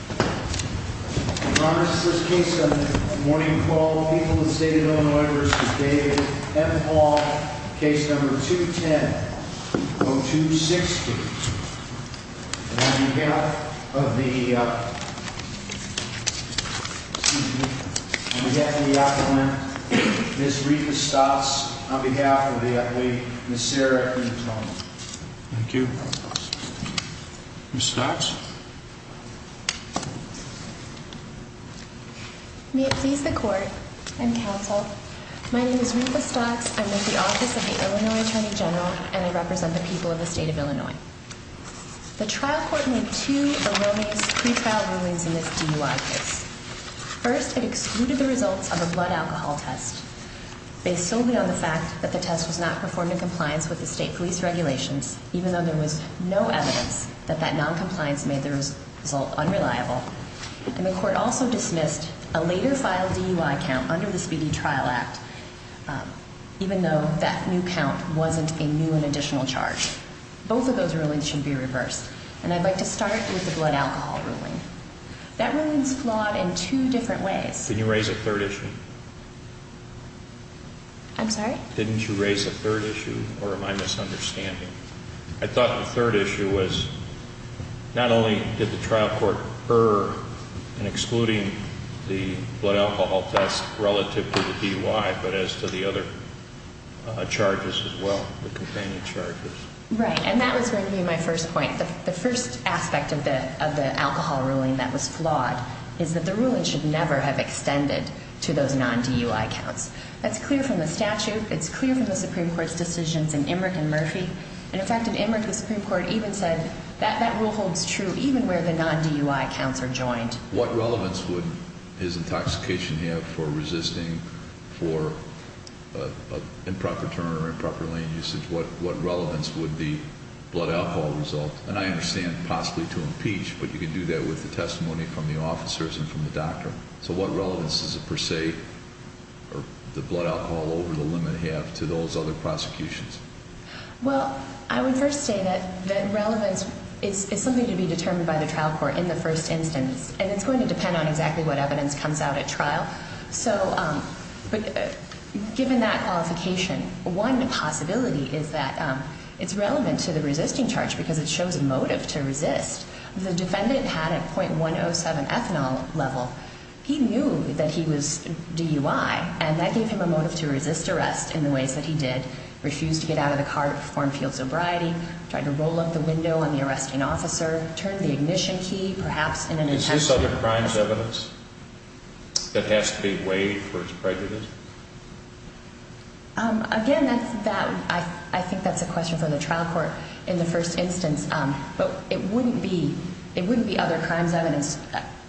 I promise this case on the morning call of the people of the State of Illinois v. David M. Hall, Case No. 210-0260. And on behalf of the, excuse me, on behalf of the applicant, Ms. Rita Stotts, on behalf of the athlete, Ms. Sarah McIntosh. Thank you. Ms. Stotts? May it please the court and counsel, my name is Rita Stotts, I'm with the Office of the Illinois Attorney General, and I represent the people of the State of Illinois. The trial court made two erroneous pre-trial rulings in this DUI case. First, it excluded the results of a blood alcohol test, based solely on the fact that the test was not performed in compliance with the state police regulations, even though there was no evidence that that non-compliance made the result unreliable. And the court also dismissed a later filed DUI count under the Speedy Trial Act, even though that new count wasn't a new and additional charge. Both of those rulings should be reversed, and I'd like to start with the blood alcohol ruling. That ruling is flawed in two different ways. Can you raise a third issue? I'm sorry? Didn't you raise a third issue, or am I misunderstanding? I thought the third issue was, not only did the trial court err in excluding the blood alcohol test relative to the DUI, but as to the other charges as well, the companion charges. Right, and that was going to be my first point. The first aspect of the alcohol ruling that was flawed is that the ruling should never have extended to those non-DUI counts. That's clear from the statute. It's clear from the Supreme Court's decisions in Emmerich and Murphy. And, in fact, in Emmerich, the Supreme Court even said that that rule holds true even where the non-DUI counts are joined. What relevance would his intoxication have for resisting for improper turn or improper lane usage? What relevance would the blood alcohol result, and I understand possibly to impeach, but you can do that with the testimony from the officers and from the doctor. So what relevance does it, per se, or the blood alcohol over the limit have to those other prosecutions? Well, I would first say that relevance is something to be determined by the trial court in the first instance. And it's going to depend on exactly what evidence comes out at trial. So, given that qualification, one possibility is that it's relevant to the resisting charge because it shows a motive to resist. The defendant had a .107 ethanol level. He knew that he was DUI, and that gave him a motive to resist arrest in the ways that he did. Refused to get out of the car to perform field sobriety. Tried to roll up the window on the arresting officer. Turned the ignition key, perhaps, in an attempt to… Is this other crimes evidence that has to be weighed for his prejudice? Again, I think that's a question for the trial court in the first instance. But it wouldn't be other crimes evidence.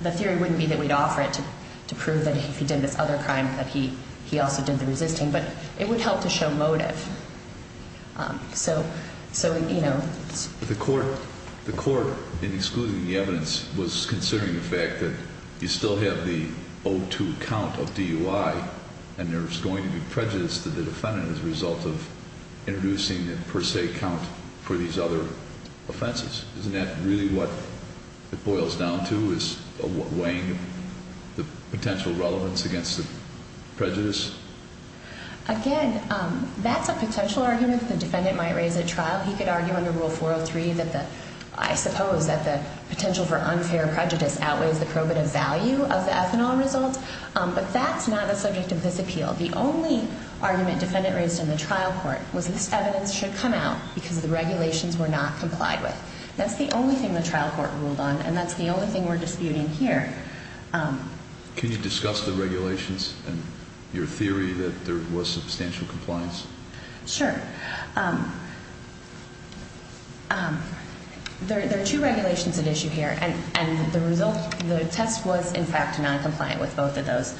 The theory wouldn't be that we'd offer it to prove that if he did this other crime that he also did the resisting, but it would help to show motive. So, you know… The court, in excluding the evidence, was considering the fact that you still have the 02 count of DUI, and there's going to be prejudice to the defendant as a result of introducing the per se count for these other offenses. Isn't that really what it boils down to, is weighing the potential relevance against the prejudice? Again, that's a potential argument that the defendant might raise at trial. He could argue under Rule 403 that the… I suppose that the potential for unfair prejudice outweighs the probative value of the ethanol result. But that's not the subject of this appeal. The only argument defendant raised in the trial court was this evidence should come out because the regulations were not complied with. That's the only thing the trial court ruled on, and that's the only thing we're disputing here. Can you discuss the regulations and your theory that there was substantial compliance? Sure. There are two regulations at issue here, and the test was, in fact, noncompliant with both of those.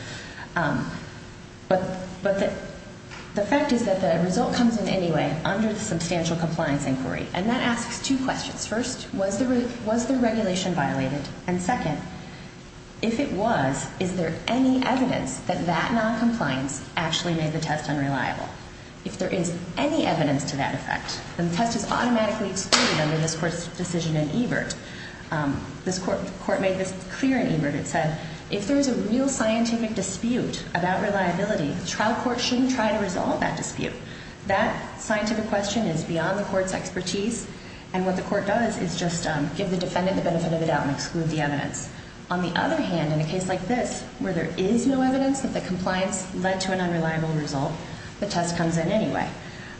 But the fact is that the result comes in anyway under the substantial compliance inquiry, and that asks two questions. First, was the regulation violated? And second, if it was, is there any evidence that that noncompliance actually made the test unreliable? If there is any evidence to that effect, then the test is automatically excluded under this court's decision in Ebert. The court made this clear in Ebert. It said if there is a real scientific dispute about reliability, the trial court shouldn't try to resolve that dispute. That scientific question is beyond the court's expertise, and what the court does is just give the defendant the benefit of the doubt and exclude the evidence. On the other hand, in a case like this, where there is no evidence that the compliance led to an unreliable result, the test comes in anyway.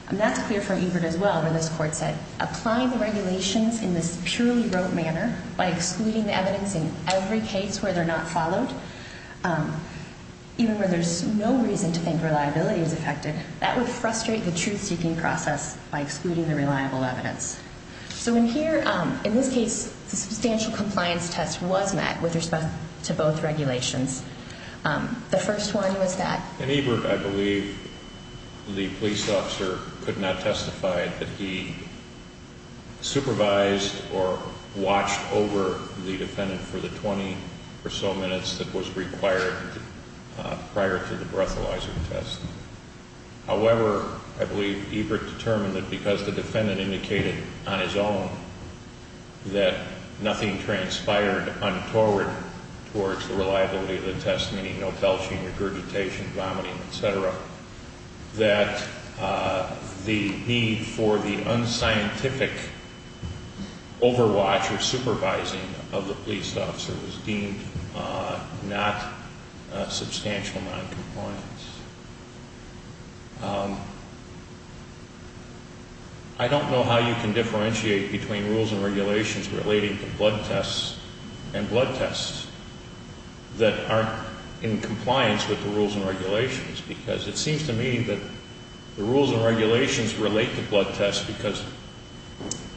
And that's clear for Ebert as well, where this court said applying the regulations in this purely rote manner by excluding the evidence in every case where they're not followed, even where there's no reason to think reliability is affected, that would frustrate the truth-seeking process by excluding the reliable evidence. So in here, in this case, the substantial compliance test was met with respect to both regulations. The first one was that... prior to the breathalyzer test. However, I believe Ebert determined that because the defendant indicated on his own that nothing transpired untoward towards the reliability of the test, meaning no belching, regurgitation, vomiting, etc., that the need for the unscientific overwatch or supervising of the police officer was deemed not a substantial amount of compliance. I don't know how you can differentiate between rules and regulations relating to blood tests and blood tests that aren't in compliance with the rules and regulations, because it seems to me that the rules and regulations relate to blood tests because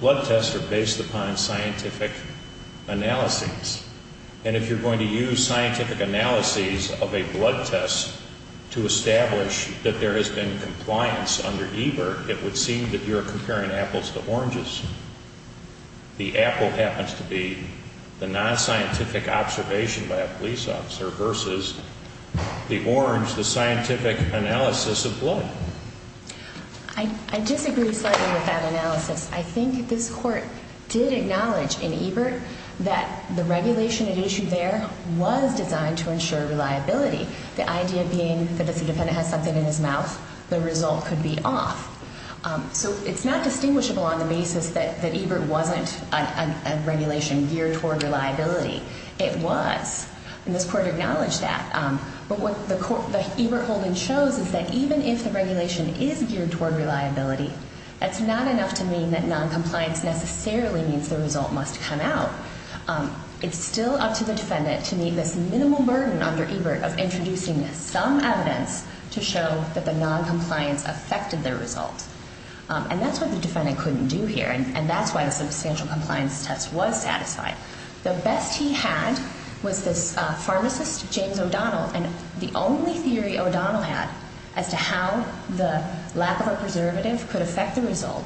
blood tests are based upon scientific analyses. And if you're going to use scientific analyses of a blood test to establish that there has been compliance under Ebert, it would seem that you're comparing apples to oranges. The apple happens to be the non-scientific observation by a police officer versus the orange, the scientific analysis of blood. I disagree slightly with that analysis. I think this Court did acknowledge in Ebert that the regulation it issued there was designed to ensure reliability, the idea being that if the defendant has something in his mouth, the result could be off. So it's not distinguishable on the basis that Ebert wasn't a regulation geared toward reliability. It was, and this Court acknowledged that. But what the Ebert holding shows is that even if the regulation is geared toward reliability, that's not enough to mean that noncompliance necessarily means the result must come out. It's still up to the defendant to meet this minimal burden under Ebert of introducing some evidence to show that the noncompliance affected their result. And that's what the defendant couldn't do here, and that's why the substantial compliance test was satisfied. The best he had was this pharmacist, James O'Donnell, and the only theory O'Donnell had as to how the lack of a preservative could affect the result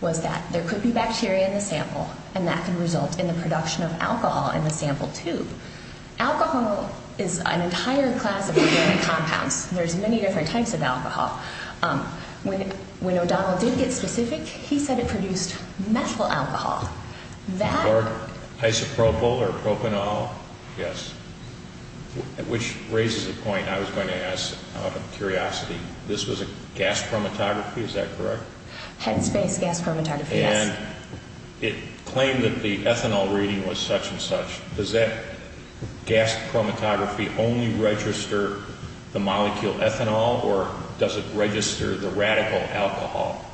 was that there could be bacteria in the sample, and that could result in the production of alcohol in the sample, too. Alcohol is an entire class of organic compounds. There's many different types of alcohol. When O'Donnell did get specific, he said it produced methyl alcohol. Or isopropyl or propanol, yes, which raises a point I was going to ask out of curiosity. This was a gas chromatography, is that correct? Headspace gas chromatography, yes. And it claimed that the ethanol reading was such and such. Does that gas chromatography only register the molecule ethanol, or does it register the radical alcohol?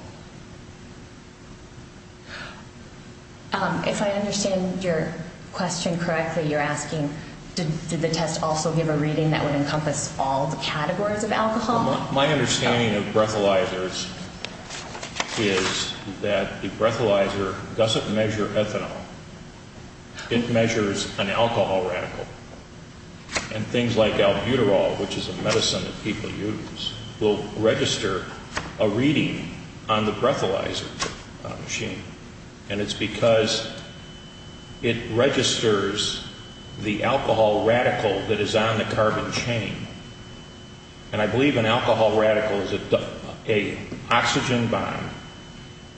If I understand your question correctly, you're asking, did the test also give a reading that would encompass all the categories of alcohol? My understanding of breathalyzers is that the breathalyzer doesn't measure ethanol. It measures an alcohol radical. And things like albuterol, which is a medicine that people use, will register a reading on the breathalyzer machine. And it's because it registers the alcohol radical that is on the carbon chain. And I believe an alcohol radical is an oxygen bond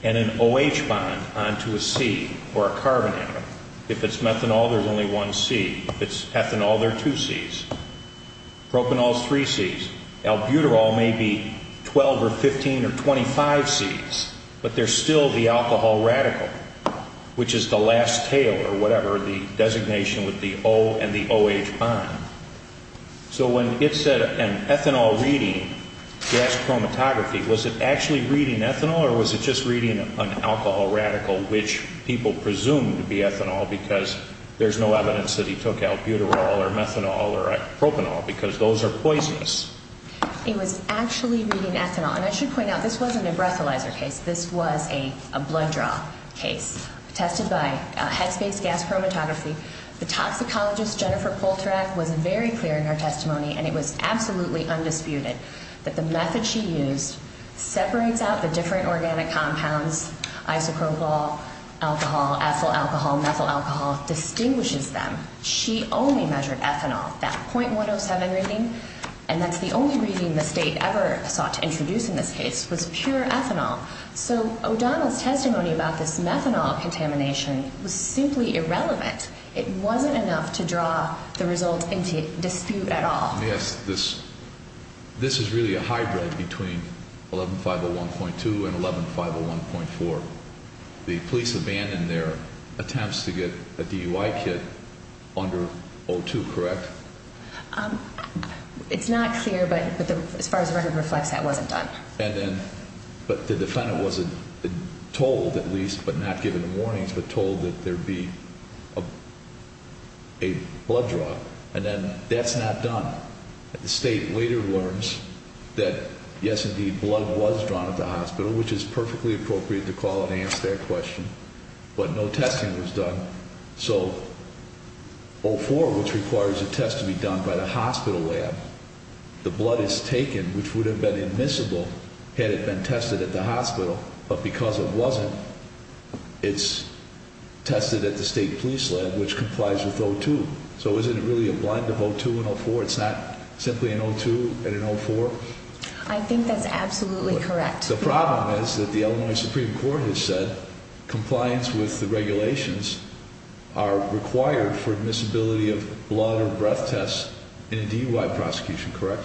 and an OH bond onto a C or a carbon atom. If it's methanol, there's only one C. If it's ethanol, there are two Cs. Propanol is three Cs. Albuterol may be 12 or 15 or 25 Cs, but they're still the alcohol radical, which is the last tail or whatever, the designation with the O and the OH bond. So when it said an ethanol reading, gas chromatography, was it actually reading ethanol or was it just reading an alcohol radical, which people presume to be ethanol because there's no evidence that he took albuterol or methanol or propanol, because those are poisonous? It was actually reading ethanol. And I should point out, this wasn't a breathalyzer case. This was a blood draw case tested by headspace gas chromatography. The toxicologist, Jennifer Polterak, was very clear in her testimony, and it was absolutely undisputed, that the method she used separates out the different organic compounds, isopropyl alcohol, ethyl alcohol, methyl alcohol, distinguishes them. She only measured ethanol. That .107 reading, and that's the only reading the state ever sought to introduce in this case, was pure ethanol. So O'Donnell's testimony about this methanol contamination was simply irrelevant. It wasn't enough to draw the result into dispute at all. Yes, this is really a hybrid between 11501.2 and 11501.4. The police abandoned their attempts to get a DUI kit under O2, correct? It's not clear, but as far as the record reflects, that wasn't done. But the defendant wasn't told, at least, but not given warnings, but told that there be a blood draw. And then that's not done. The state later learns that, yes, indeed, blood was drawn at the hospital, which is perfectly appropriate to call and answer that question, but no testing was done. So O4, which requires a test to be done by the hospital lab, the blood is taken, which would have been admissible had it been tested at the hospital, but because it wasn't, it's tested at the state police lab, which complies with O2. So isn't it really a blend of O2 and O4? It's not simply an O2 and an O4? I think that's absolutely correct. The problem is that the Illinois Supreme Court has said compliance with the regulations are required for admissibility of blood or breath tests in a DUI prosecution, correct?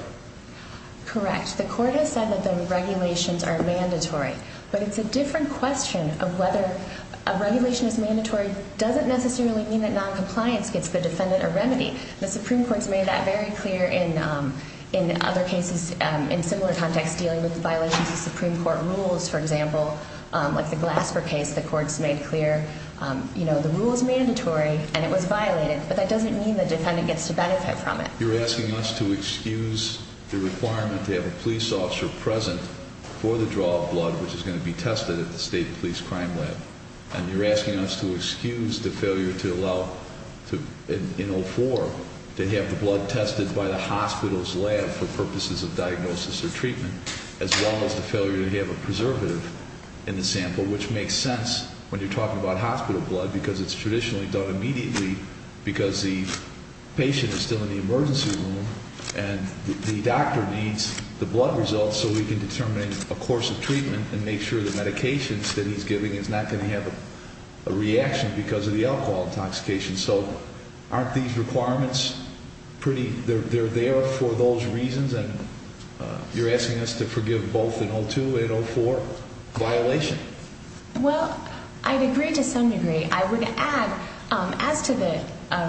Correct. The court has said that the regulations are mandatory, but it's a different question of whether a regulation is mandatory doesn't necessarily mean that noncompliance gets the defendant a remedy. The Supreme Court's made that very clear in other cases in similar contexts, dealing with violations of Supreme Court rules, for example, like the Glasper case. The court's made clear the rule is mandatory and it was violated, but that doesn't mean the defendant gets to benefit from it. You're asking us to excuse the requirement to have a police officer present for the draw of blood, which is going to be tested at the state police crime lab, and you're asking us to excuse the failure to allow, in O4, to have the blood tested by the hospital's lab for purposes of diagnosis or treatment, as well as the failure to have a preservative in the sample, which makes sense when you're talking about hospital blood, because it's traditionally done immediately because the patient is still in the emergency room and the doctor needs the blood results so we can determine a course of treatment and make sure the medications that he's giving is not going to have a reaction because of the alcohol intoxication. So aren't these requirements pretty, they're there for those reasons? And you're asking us to forgive both in O2 and O4 violation? Well, I'd agree to some degree. I would add, as to the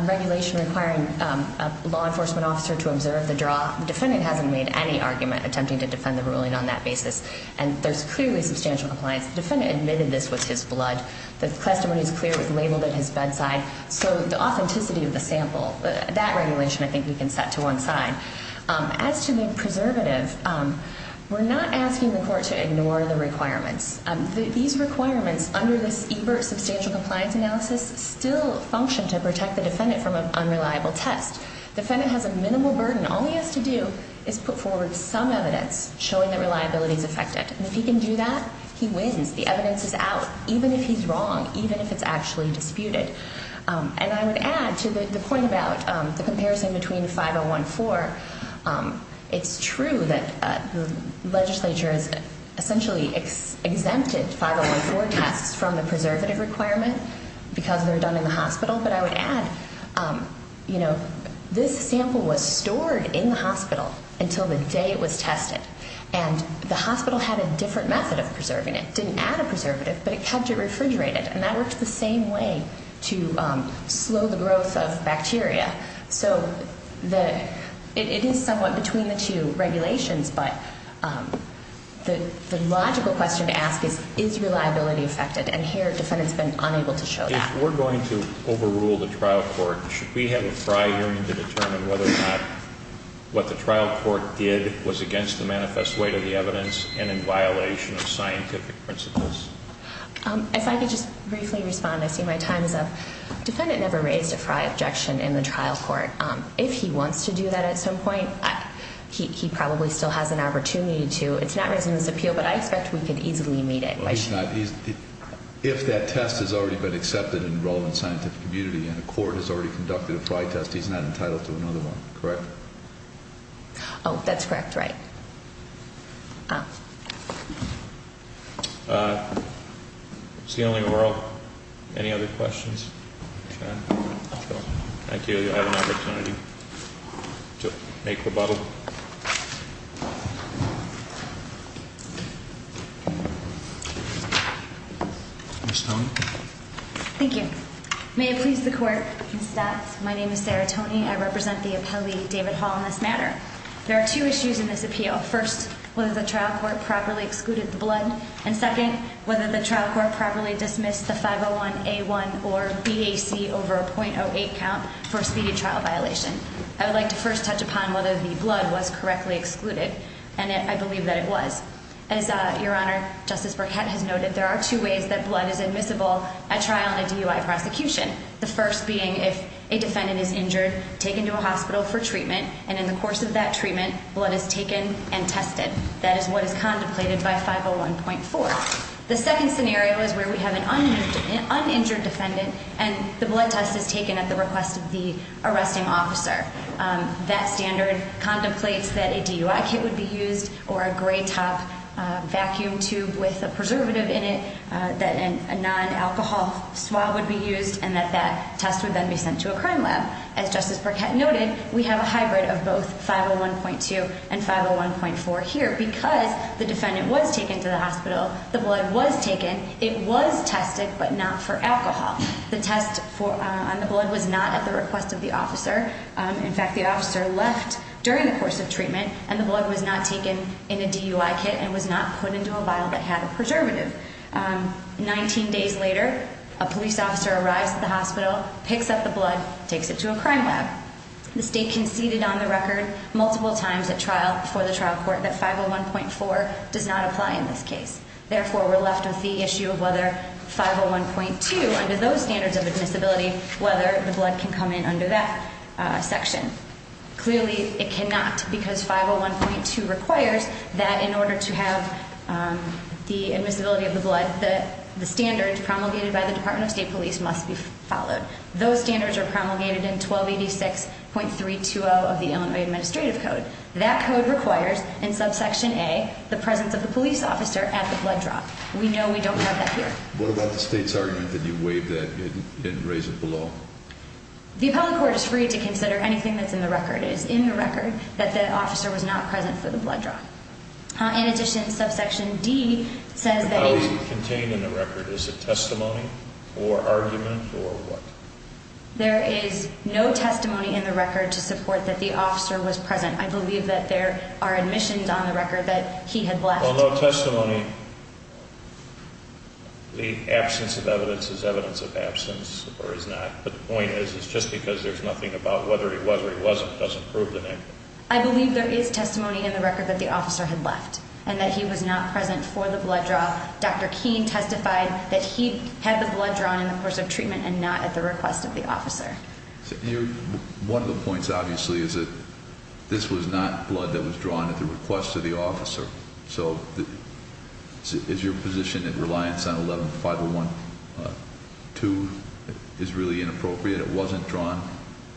regulation requiring a law enforcement officer to observe the draw, the defendant hasn't made any argument attempting to defend the ruling on that basis, and there's clearly substantial compliance. The defendant admitted this was his blood. The testimony is clear. It was labeled at his bedside. So the authenticity of the sample, that regulation I think we can set to one side. As to the preservative, we're not asking the court to ignore the requirements. These requirements under this EBERT substantial compliance analysis still function to protect the defendant from an unreliable test. The defendant has a minimal burden. All he has to do is put forward some evidence showing that reliability is affected. And if he can do that, he wins. The evidence is out, even if he's wrong, even if it's actually disputed. And I would add to the point about the comparison between 5014, it's true that the legislature has essentially exempted 5014 tests from the preservative requirement because they're done in the hospital. But I would add, you know, this sample was stored in the hospital until the day it was tested. And the hospital had a different method of preserving it. It didn't add a preservative, but it kept it refrigerated. And that worked the same way to slow the growth of bacteria. So it is somewhat between the two regulations, but the logical question to ask is, is reliability affected? And here a defendant's been unable to show that. If we're going to overrule the trial court, should we have a prior hearing to determine whether or not what the trial court did was against the manifest weight of the evidence and in violation of scientific principles? If I could just briefly respond, I see my time is up. Defendant never raised a Frye objection in the trial court. If he wants to do that at some point, he probably still has an opportunity to. It's not raised in this appeal, but I expect we could easily meet it. If that test has already been accepted and enrolled in scientific community and the court has already conducted a Frye test, he's not entitled to another one, correct? Oh, that's correct, right. It's the only world. Any other questions? Thank you. You have an opportunity to make rebuttal. Ms. Toney. Thank you. May it please the Court, Mr. Statz, my name is Sarah Toney. I represent the appellee, David Hall, in this matter. There are two issues in this appeal. First, whether the trial court properly excluded the blood. And second, whether the trial court properly dismissed the 501A1 or BAC over a .08 count for a speedy trial violation. I would like to first touch upon whether the blood was correctly excluded, and I believe that it was. As Your Honor, Justice Burkett has noted, there are two ways that blood is admissible at trial in a DUI prosecution. The first being if a defendant is injured, taken to a hospital for treatment, and in the course of that treatment, blood is taken and tested. That is what is contemplated by 501.4. The second scenario is where we have an uninjured defendant, and the blood test is taken at the request of the arresting officer. That standard contemplates that a DUI kit would be used, or a gray top vacuum tube with a preservative in it, that a non-alcohol swab would be used, and that that test would then be sent to a crime lab. As Justice Burkett noted, we have a hybrid of both 501.2 and 501.4 here. Because the defendant was taken to the hospital, the blood was taken. It was tested, but not for alcohol. The test on the blood was not at the request of the officer. In fact, the officer left during the course of treatment, and the blood was not taken in a DUI kit and was not put into a vial that had a preservative. Nineteen days later, a police officer arrives at the hospital, picks up the blood, takes it to a crime lab. The state conceded on the record multiple times before the trial court that 501.4 does not apply in this case. Therefore, we're left with the issue of whether 501.2, under those standards of admissibility, whether the blood can come in under that section. Clearly, it cannot, because 501.2 requires that in order to have the admissibility of the blood, the standards promulgated by the Department of State Police must be followed. Those standards are promulgated in 1286.320 of the Illinois Administrative Code. That code requires, in subsection A, the presence of the police officer at the blood draw. We know we don't have that here. What about the state's argument that you waived that and didn't raise it below? The appellate court is free to consider anything that's in the record. It is in the record that the officer was not present for the blood draw. In addition, subsection D says that if— How is it contained in the record? Is it testimony or argument or what? There is no testimony in the record to support that the officer was present. I believe that there are admissions on the record that he had left. Well, no testimony. The absence of evidence is evidence of absence or is not, but the point is it's just because there's nothing about whether it was or it wasn't doesn't prove the negative. I believe there is testimony in the record that the officer had left and that he was not present for the blood draw. Dr. Keene testified that he had the blood drawn in the course of treatment and not at the request of the officer. One of the points, obviously, is that this was not blood that was drawn at the request of the officer. So is your position that reliance on 11-501-2 is really inappropriate? It wasn't drawn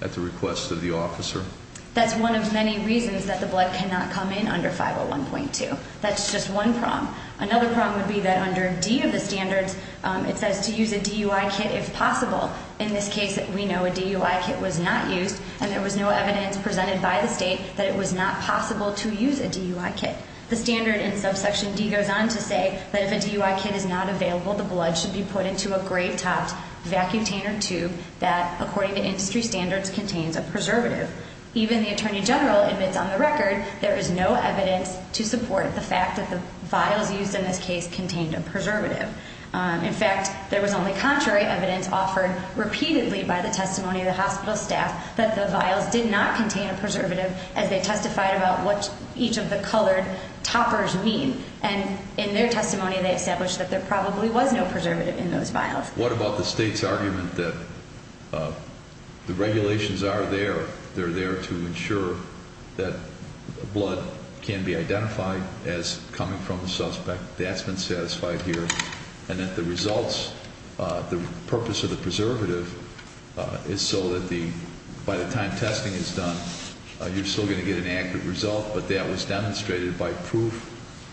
at the request of the officer? That's one of many reasons that the blood cannot come in under 501.2. That's just one problem. Another problem would be that under D of the standards, it says to use a DUI kit if possible. In this case, we know a DUI kit was not used, and there was no evidence presented by the state that it was not possible to use a DUI kit. The standard in subsection D goes on to say that if a DUI kit is not available, the blood should be put into a gray-topped vacutainer tube that, according to industry standards, contains a preservative. Even the attorney general admits on the record there is no evidence to support the fact that the vials used in this case contained a preservative. In fact, there was only contrary evidence offered repeatedly by the testimony of the hospital staff that the vials did not contain a preservative as they testified about what each of the colored toppers mean. And in their testimony, they established that there probably was no preservative in those vials. What about the state's argument that the regulations are there, they're there to ensure that blood can be identified as coming from the suspect, that's been satisfied here, and that the results, the purpose of the preservative is so that by the time testing is done, you're still going to get an accurate result, but that was demonstrated by proof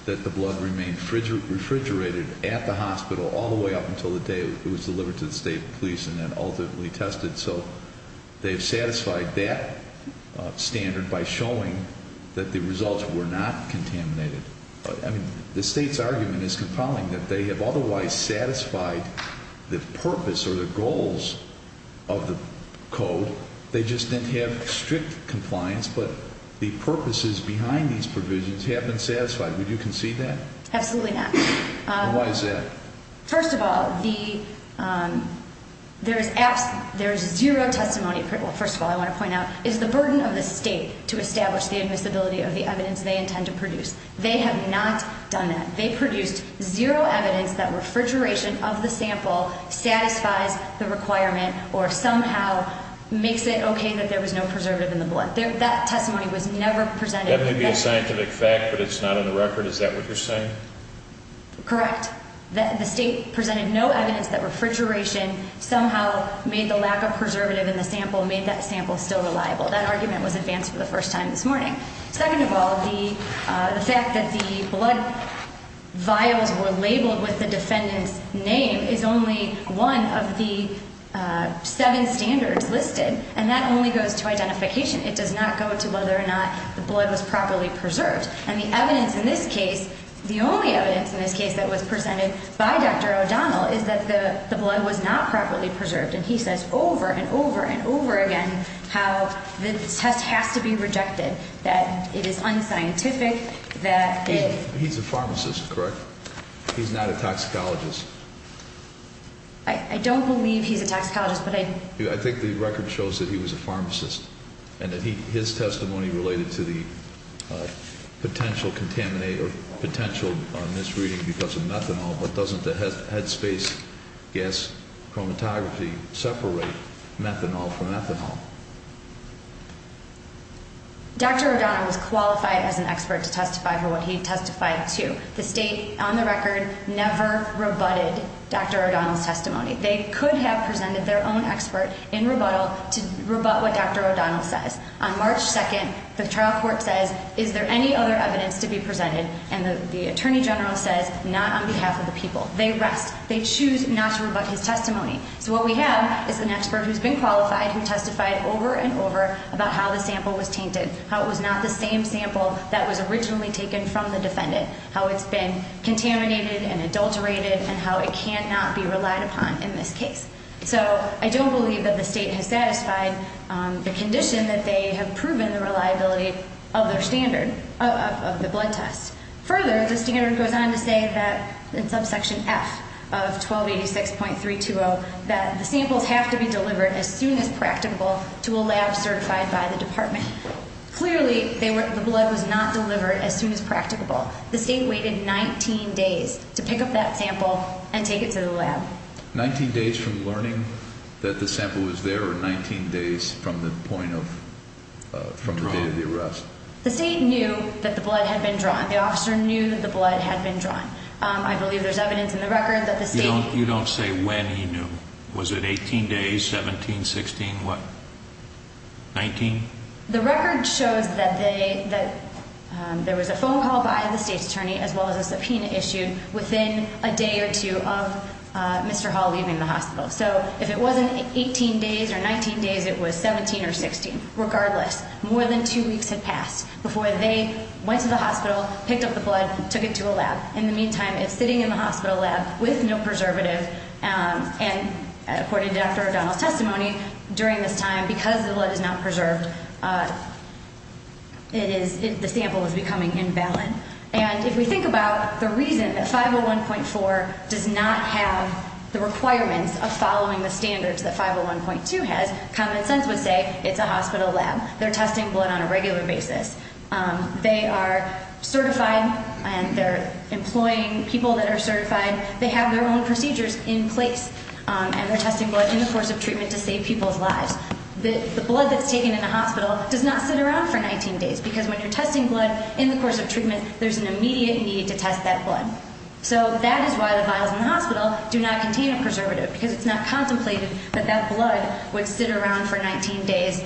that the blood remained refrigerated at the hospital all the way up until the day it was delivered to the state police and then ultimately tested. So they've satisfied that standard by showing that the results were not contaminated. I mean, the state's argument is compelling that they have otherwise satisfied the purpose or the goals of the code. They just didn't have strict compliance, but the purposes behind these provisions have been satisfied. Would you concede that? Absolutely not. Why is that? First of all, there is zero testimony. First of all, I want to point out is the burden of the state to establish the admissibility of the evidence they intend to produce. They have not done that. They produced zero evidence that refrigeration of the sample satisfies the requirement or somehow makes it okay that there was no preservative in the blood. That testimony was never presented. That may be a scientific fact, but it's not on the record. Is that what you're saying? Correct. The state presented no evidence that refrigeration somehow made the lack of preservative in the sample, made that sample still reliable. That argument was advanced for the first time this morning. Second of all, the fact that the blood vials were labeled with the defendant's name is only one of the seven standards listed, and that only goes to identification. It does not go to whether or not the blood was properly preserved. And the evidence in this case, the only evidence in this case that was presented by Dr. O'Donnell, is that the blood was not properly preserved. And he says over and over and over again how the test has to be rejected, that it is unscientific, that it- He's a pharmacist, correct? He's not a toxicologist. I don't believe he's a toxicologist, but I- I think the record shows that he was a pharmacist, and that his testimony related to the potential contaminate or potential misreading because of methanol, but doesn't the headspace gas chromatography separate methanol from ethanol? Dr. O'Donnell was qualified as an expert to testify for what he testified to. The state, on the record, never rebutted Dr. O'Donnell's testimony. They could have presented their own expert in rebuttal to rebut what Dr. O'Donnell says. On March 2nd, the trial court says, is there any other evidence to be presented? And the attorney general says, not on behalf of the people. They rest. They choose not to rebut his testimony. So what we have is an expert who's been qualified, who testified over and over about how the sample was tainted, how it was not the same sample that was originally taken from the defendant, how it's been contaminated and adulterated, and how it cannot be relied upon in this case. So I don't believe that the state has satisfied the condition that they have proven the reliability of their standard, of the blood test. Further, the standard goes on to say that, in subsection F of 1286.320, that the samples have to be delivered as soon as practicable to a lab certified by the department. Clearly, the blood was not delivered as soon as practicable. The state waited 19 days to pick up that sample and take it to the lab. Nineteen days from learning that the sample was there, or 19 days from the point of, from the day of the arrest? The state knew that the blood had been drawn. The officer knew that the blood had been drawn. I believe there's evidence in the record that the state... You don't say when he knew. Was it 18 days, 17, 16, what, 19? The record shows that there was a phone call by the state's attorney, as well as a subpoena issued within a day or two of Mr. Hall leaving the hospital. So if it wasn't 18 days or 19 days, it was 17 or 16. Regardless, more than two weeks had passed before they went to the hospital, picked up the blood, took it to a lab. In the meantime, if sitting in the hospital lab with no preservative, and according to Dr. O'Donnell's testimony, during this time, because the blood is not preserved, it is, the sample is becoming invalid. And if we think about the reason that 501.4 does not have the requirements of following the standards that 501.2 has, common sense would say it's a hospital lab. They're testing blood on a regular basis. They are certified, and they're employing people that are certified. They have their own procedures in place, and they're testing blood in the course of treatment to save people's lives. The blood that's taken in the hospital does not sit around for 19 days, because when you're testing blood in the course of treatment, there's an immediate need to test that blood. So that is why the vials in the hospital do not contain a preservative, because it's not contemplated that that blood would sit around for 19 days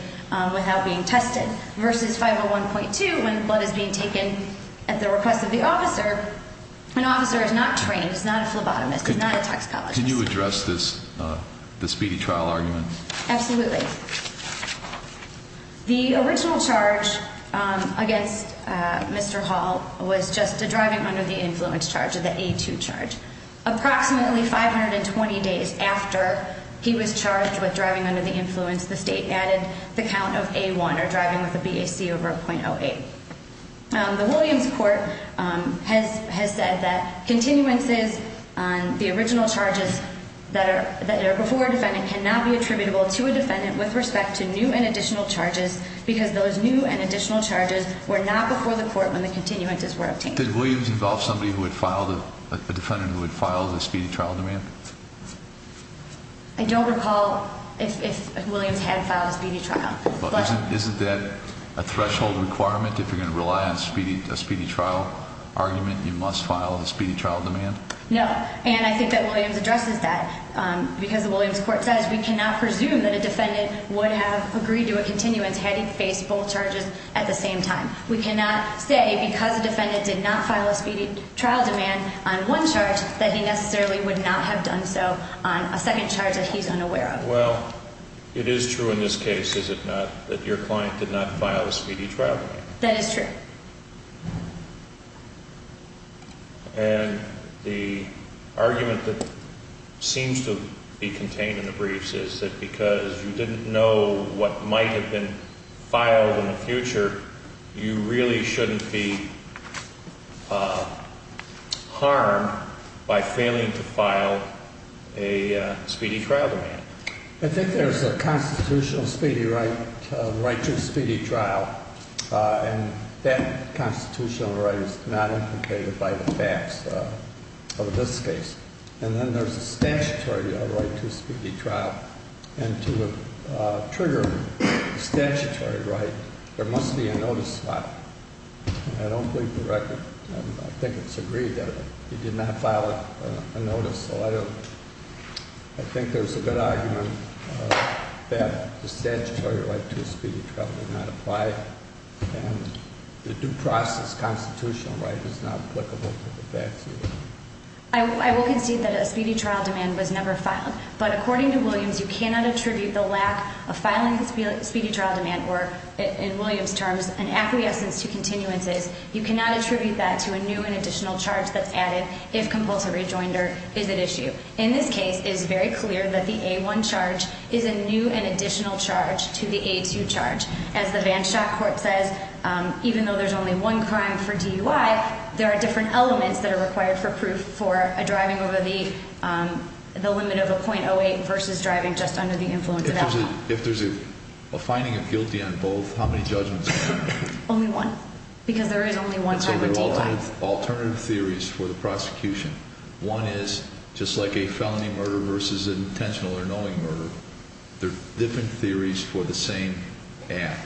without being tested. Versus 501.2, when blood is being taken at the request of the officer, an officer is not trained. He's not a phlebotomist. He's not a toxicologist. Can you address this, the speedy trial argument? Absolutely. The original charge against Mr. Hall was just a driving under the influence charge, the A2 charge. Approximately 520 days after he was charged with driving under the influence, the state added the count of A1, or driving with a BAC over a .08. The Williams court has said that continuances on the original charges that are before a defendant cannot be attributable to a defendant with respect to new and additional charges, because those new and additional charges were not before the court when the continuances were obtained. Did Williams involve somebody who had filed, a defendant who had filed a speedy trial demand? I don't recall if Williams had filed a speedy trial. Isn't that a threshold requirement? If you're going to rely on a speedy trial argument, you must file a speedy trial demand? No. And I think that Williams addresses that. Because the Williams court says we cannot presume that a defendant would have agreed to a continuance had he faced both charges at the same time. We cannot say because a defendant did not file a speedy trial demand on one charge that he necessarily would not have done so on a second charge that he's unaware of. Well, it is true in this case, is it not, that your client did not file a speedy trial demand? That is true. And the argument that seems to be contained in the briefs is that because you didn't know what might have been filed in the future, you really shouldn't be harmed by failing to file a speedy trial demand. I think there's a constitutional speedy right to a speedy trial, and that constitutional right is not implicated by the facts of this case. And then there's a statutory right to a speedy trial. And to trigger a statutory right, there must be a notice filed. And I don't believe the record, I think it's agreed that he did not file a notice. So I think there's a good argument that the statutory right to a speedy trial did not apply. And the due process constitutional right is not applicable to the facts either. I will concede that a speedy trial demand was never filed. But according to Williams, you cannot attribute the lack of filing a speedy trial demand, or in Williams' terms, an acquiescence to continuances. You cannot attribute that to a new and additional charge that's added if compulsive rejoinder is at issue. In this case, it is very clear that the A-1 charge is a new and additional charge to the A-2 charge. As the Vanschack Court says, even though there's only one crime for DUI, there are different elements that are required for proof for a driving over the limit of a .08 versus driving just under the influence of alcohol. If there's a finding of guilty on both, how many judgments are there? Only one. Because there is only one type of DUI. So there are alternative theories for the prosecution. One is just like a felony murder versus an intentional or knowing murder. There are different theories for the same act.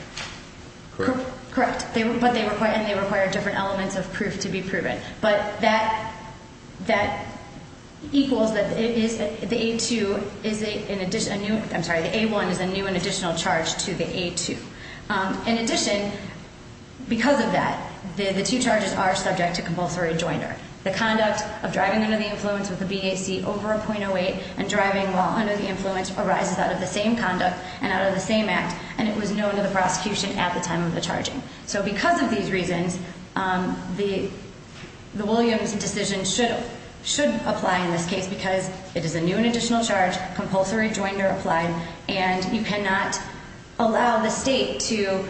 Correct? Correct. And they require different elements of proof to be proven. But that equals that the A-1 is a new and additional charge to the A-2. In addition, because of that, the two charges are subject to compulsory rejoinder. The conduct of driving under the influence with a BAC over a .08 and driving while under the influence arises out of the same conduct and out of the same act, and it was known to the prosecution at the time of the charging. So because of these reasons, the Williams decision should apply in this case because it is a new and additional charge, compulsory rejoinder applied, and you cannot allow the state to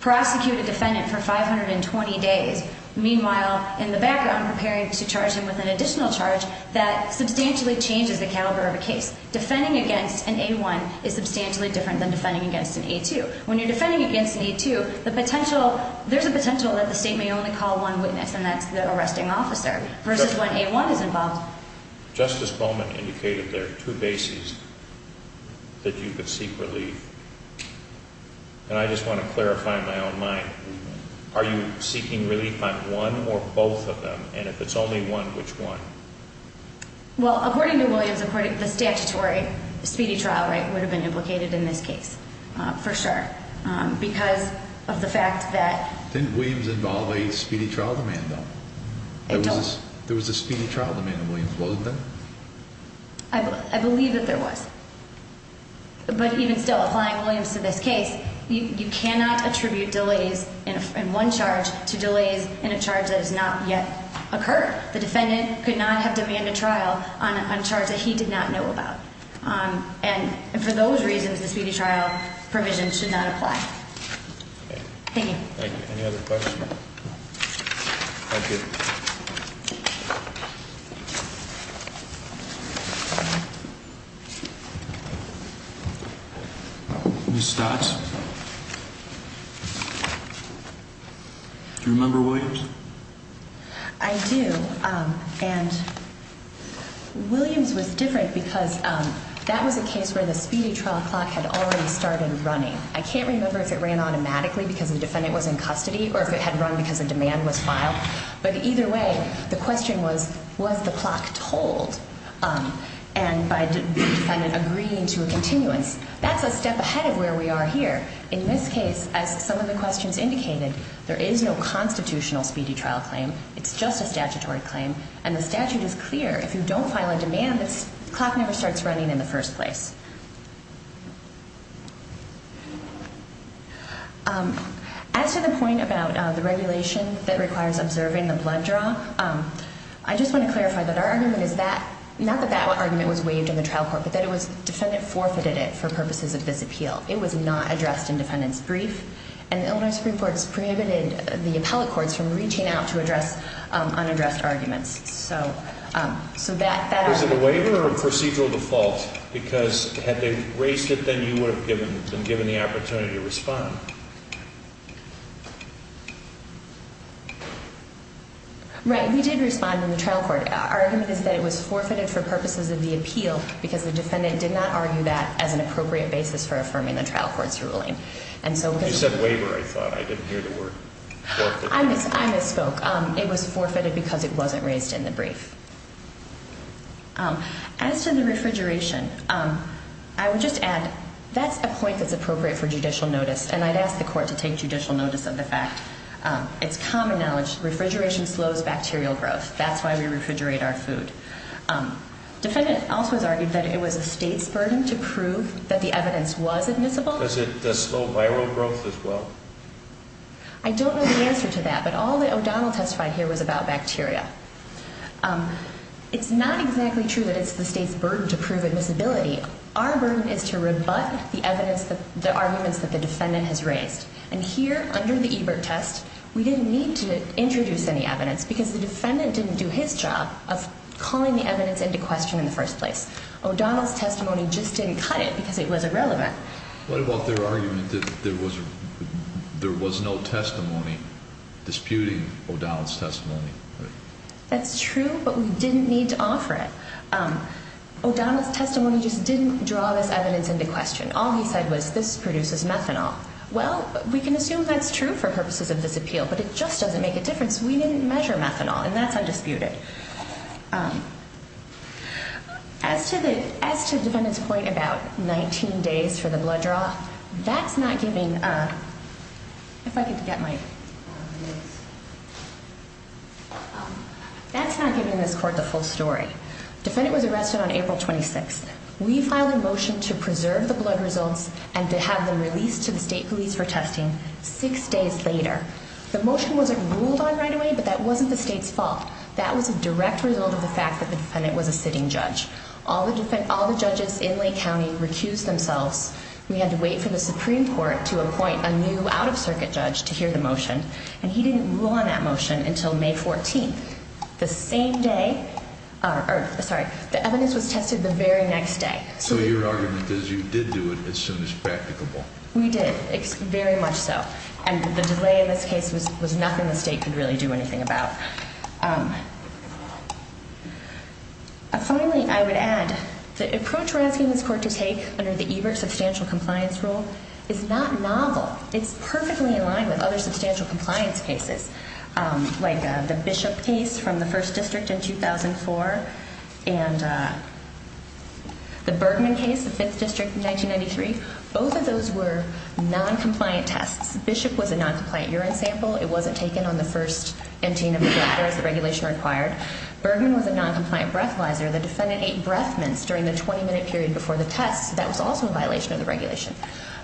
prosecute a defendant for 520 days. Meanwhile, in the background, preparing to charge him with an additional charge that substantially changes the caliber of a case. Defending against an A-1 is substantially different than defending against an A-2. When you're defending against an A-2, there's a potential that the state may only call one witness, and that's the arresting officer, versus when A-1 is involved. Justice Bowman indicated there are two bases that you could seek relief, and I just want to clarify in my own mind, are you seeking relief on one or both of them, and if it's only one, which one? Well, according to Williams, the statutory speedy trial rate would have been implicated in this case, for sure, because of the fact that... Didn't Williams involve a speedy trial demand, though? There was a speedy trial demand in Williams, wasn't there? I believe that there was. But even still, applying Williams to this case, you cannot attribute delays in one charge to delays in a charge that has not yet occurred. The defendant could not have demanded trial on a charge that he did not know about. And for those reasons, the speedy trial provision should not apply. Thank you. Thank you. Any other questions? Thank you. Ms. Stotts? Do you remember Williams? I do, and Williams was different because that was a case where the speedy trial clock had already started running. I can't remember if it ran automatically because the defendant was in custody or if it had run because a demand was filed. But either way, the question was, was the clock told by the defendant agreeing to a continuance? That's a step ahead of where we are here. In this case, as some of the questions indicated, there is no constitutional speedy trial claim. It's just a statutory claim, and the statute is clear. If you don't file a demand, the clock never starts running in the first place. As to the point about the regulation that requires observing the blood draw, I just want to clarify that our argument is that, not that that argument was waived in the trial court, but that the defendant forfeited it for purposes of this appeal. It was not addressed in defendant's brief, and the Illinois Supreme Court has prohibited the appellate courts from reaching out to address unaddressed arguments. Was it a waiver or a procedural default? Because had they raised it, then you would have been given the opportunity to respond. Right, we did respond in the trial court. Our argument is that it was forfeited for purposes of the appeal because the defendant did not argue that as an appropriate basis for affirming the trial court's ruling. You said waiver, I thought. I didn't hear the word forfeited. I misspoke. It was forfeited because it wasn't raised in the brief. As to the refrigeration, I would just add, that's a point that's appropriate for judicial notice, and I'd ask the court to take judicial notice of the fact. It's common knowledge, refrigeration slows bacterial growth. That's why we refrigerate our food. Defendant also has argued that it was a state's burden to prove that the evidence was admissible. Does it slow viral growth as well? I don't know the answer to that, but all that O'Donnell testified here was about bacteria. It's not exactly true that it's the state's burden to prove admissibility. Our burden is to rebut the arguments that the defendant has raised. And here, under the Ebert test, we didn't need to introduce any evidence because the defendant didn't do his job of calling the evidence into question in the first place. O'Donnell's testimony just didn't cut it because it was irrelevant. What about their argument that there was no testimony disputing O'Donnell's testimony? That's true, but we didn't need to offer it. O'Donnell's testimony just didn't draw this evidence into question. All he said was, this produces methanol. Well, we can assume that's true for purposes of this appeal, but it just doesn't make a difference. We didn't measure methanol, and that's undisputed. As to the defendant's point about 19 days for the blood draw, that's not giving this court the full story. The defendant was arrested on April 26th. We filed a motion to preserve the blood results and to have them released to the state police for testing six days later. The motion wasn't ruled on right away, but that wasn't the state's fault. That was a direct result of the fact that the defendant was a sitting judge. All the judges in Lake County recused themselves. We had to wait for the Supreme Court to appoint a new out-of-circuit judge to hear the motion, and he didn't rule on that motion until May 14th, the same day. Sorry, the evidence was tested the very next day. So your argument is you did do it as soon as practicable. We did, very much so. And the delay in this case was nothing the state could really do anything about. Finally, I would add the approach we're asking this court to take under the Ebert Substantial Compliance Rule is not novel. It's perfectly in line with other substantial compliance cases, like the Bishop case from the 1st District in 2004 and the Bergman case, the 5th District in 1993. Both of those were noncompliant tests. Bishop was a noncompliant urine sample. It wasn't taken on the first emptying of the blood, whereas the regulation required. Bergman was a noncompliant breathalyzer. The defendant ate breath mints during the 20-minute period before the test. That was also a violation of the regulation.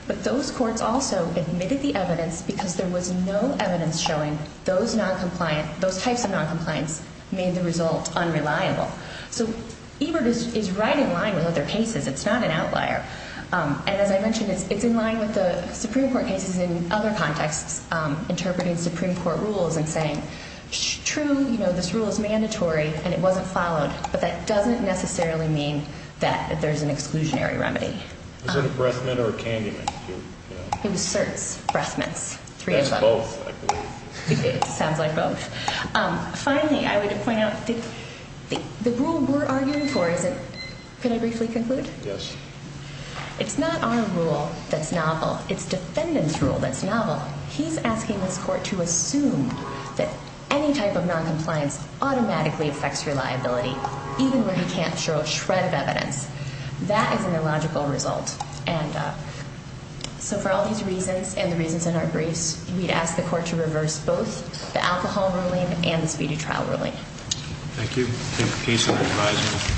But those courts also admitted the evidence because there was no evidence showing those types of noncompliance made the result unreliable. So Ebert is right in line with other cases. It's not an outlier. And as I mentioned, it's in line with the Supreme Court cases in other contexts, interpreting Supreme Court rules and saying, true, this rule is mandatory and it wasn't followed, but that doesn't necessarily mean that there's an exclusionary remedy. Was it a breath mint or a candy mint? It was certs, breath mints. That's both, I believe. It sounds like both. Finally, I would point out the rule we're arguing for, could I briefly conclude? Yes. It's not our rule that's novel. It's defendant's rule that's novel. He's asking this court to assume that any type of noncompliance automatically affects reliability, even when he can't show a shred of evidence. That is an illogical result. So for all these reasons and the reasons in our briefs, we'd ask the court to reverse both the alcohol ruling and the speedy trial ruling. Thank you.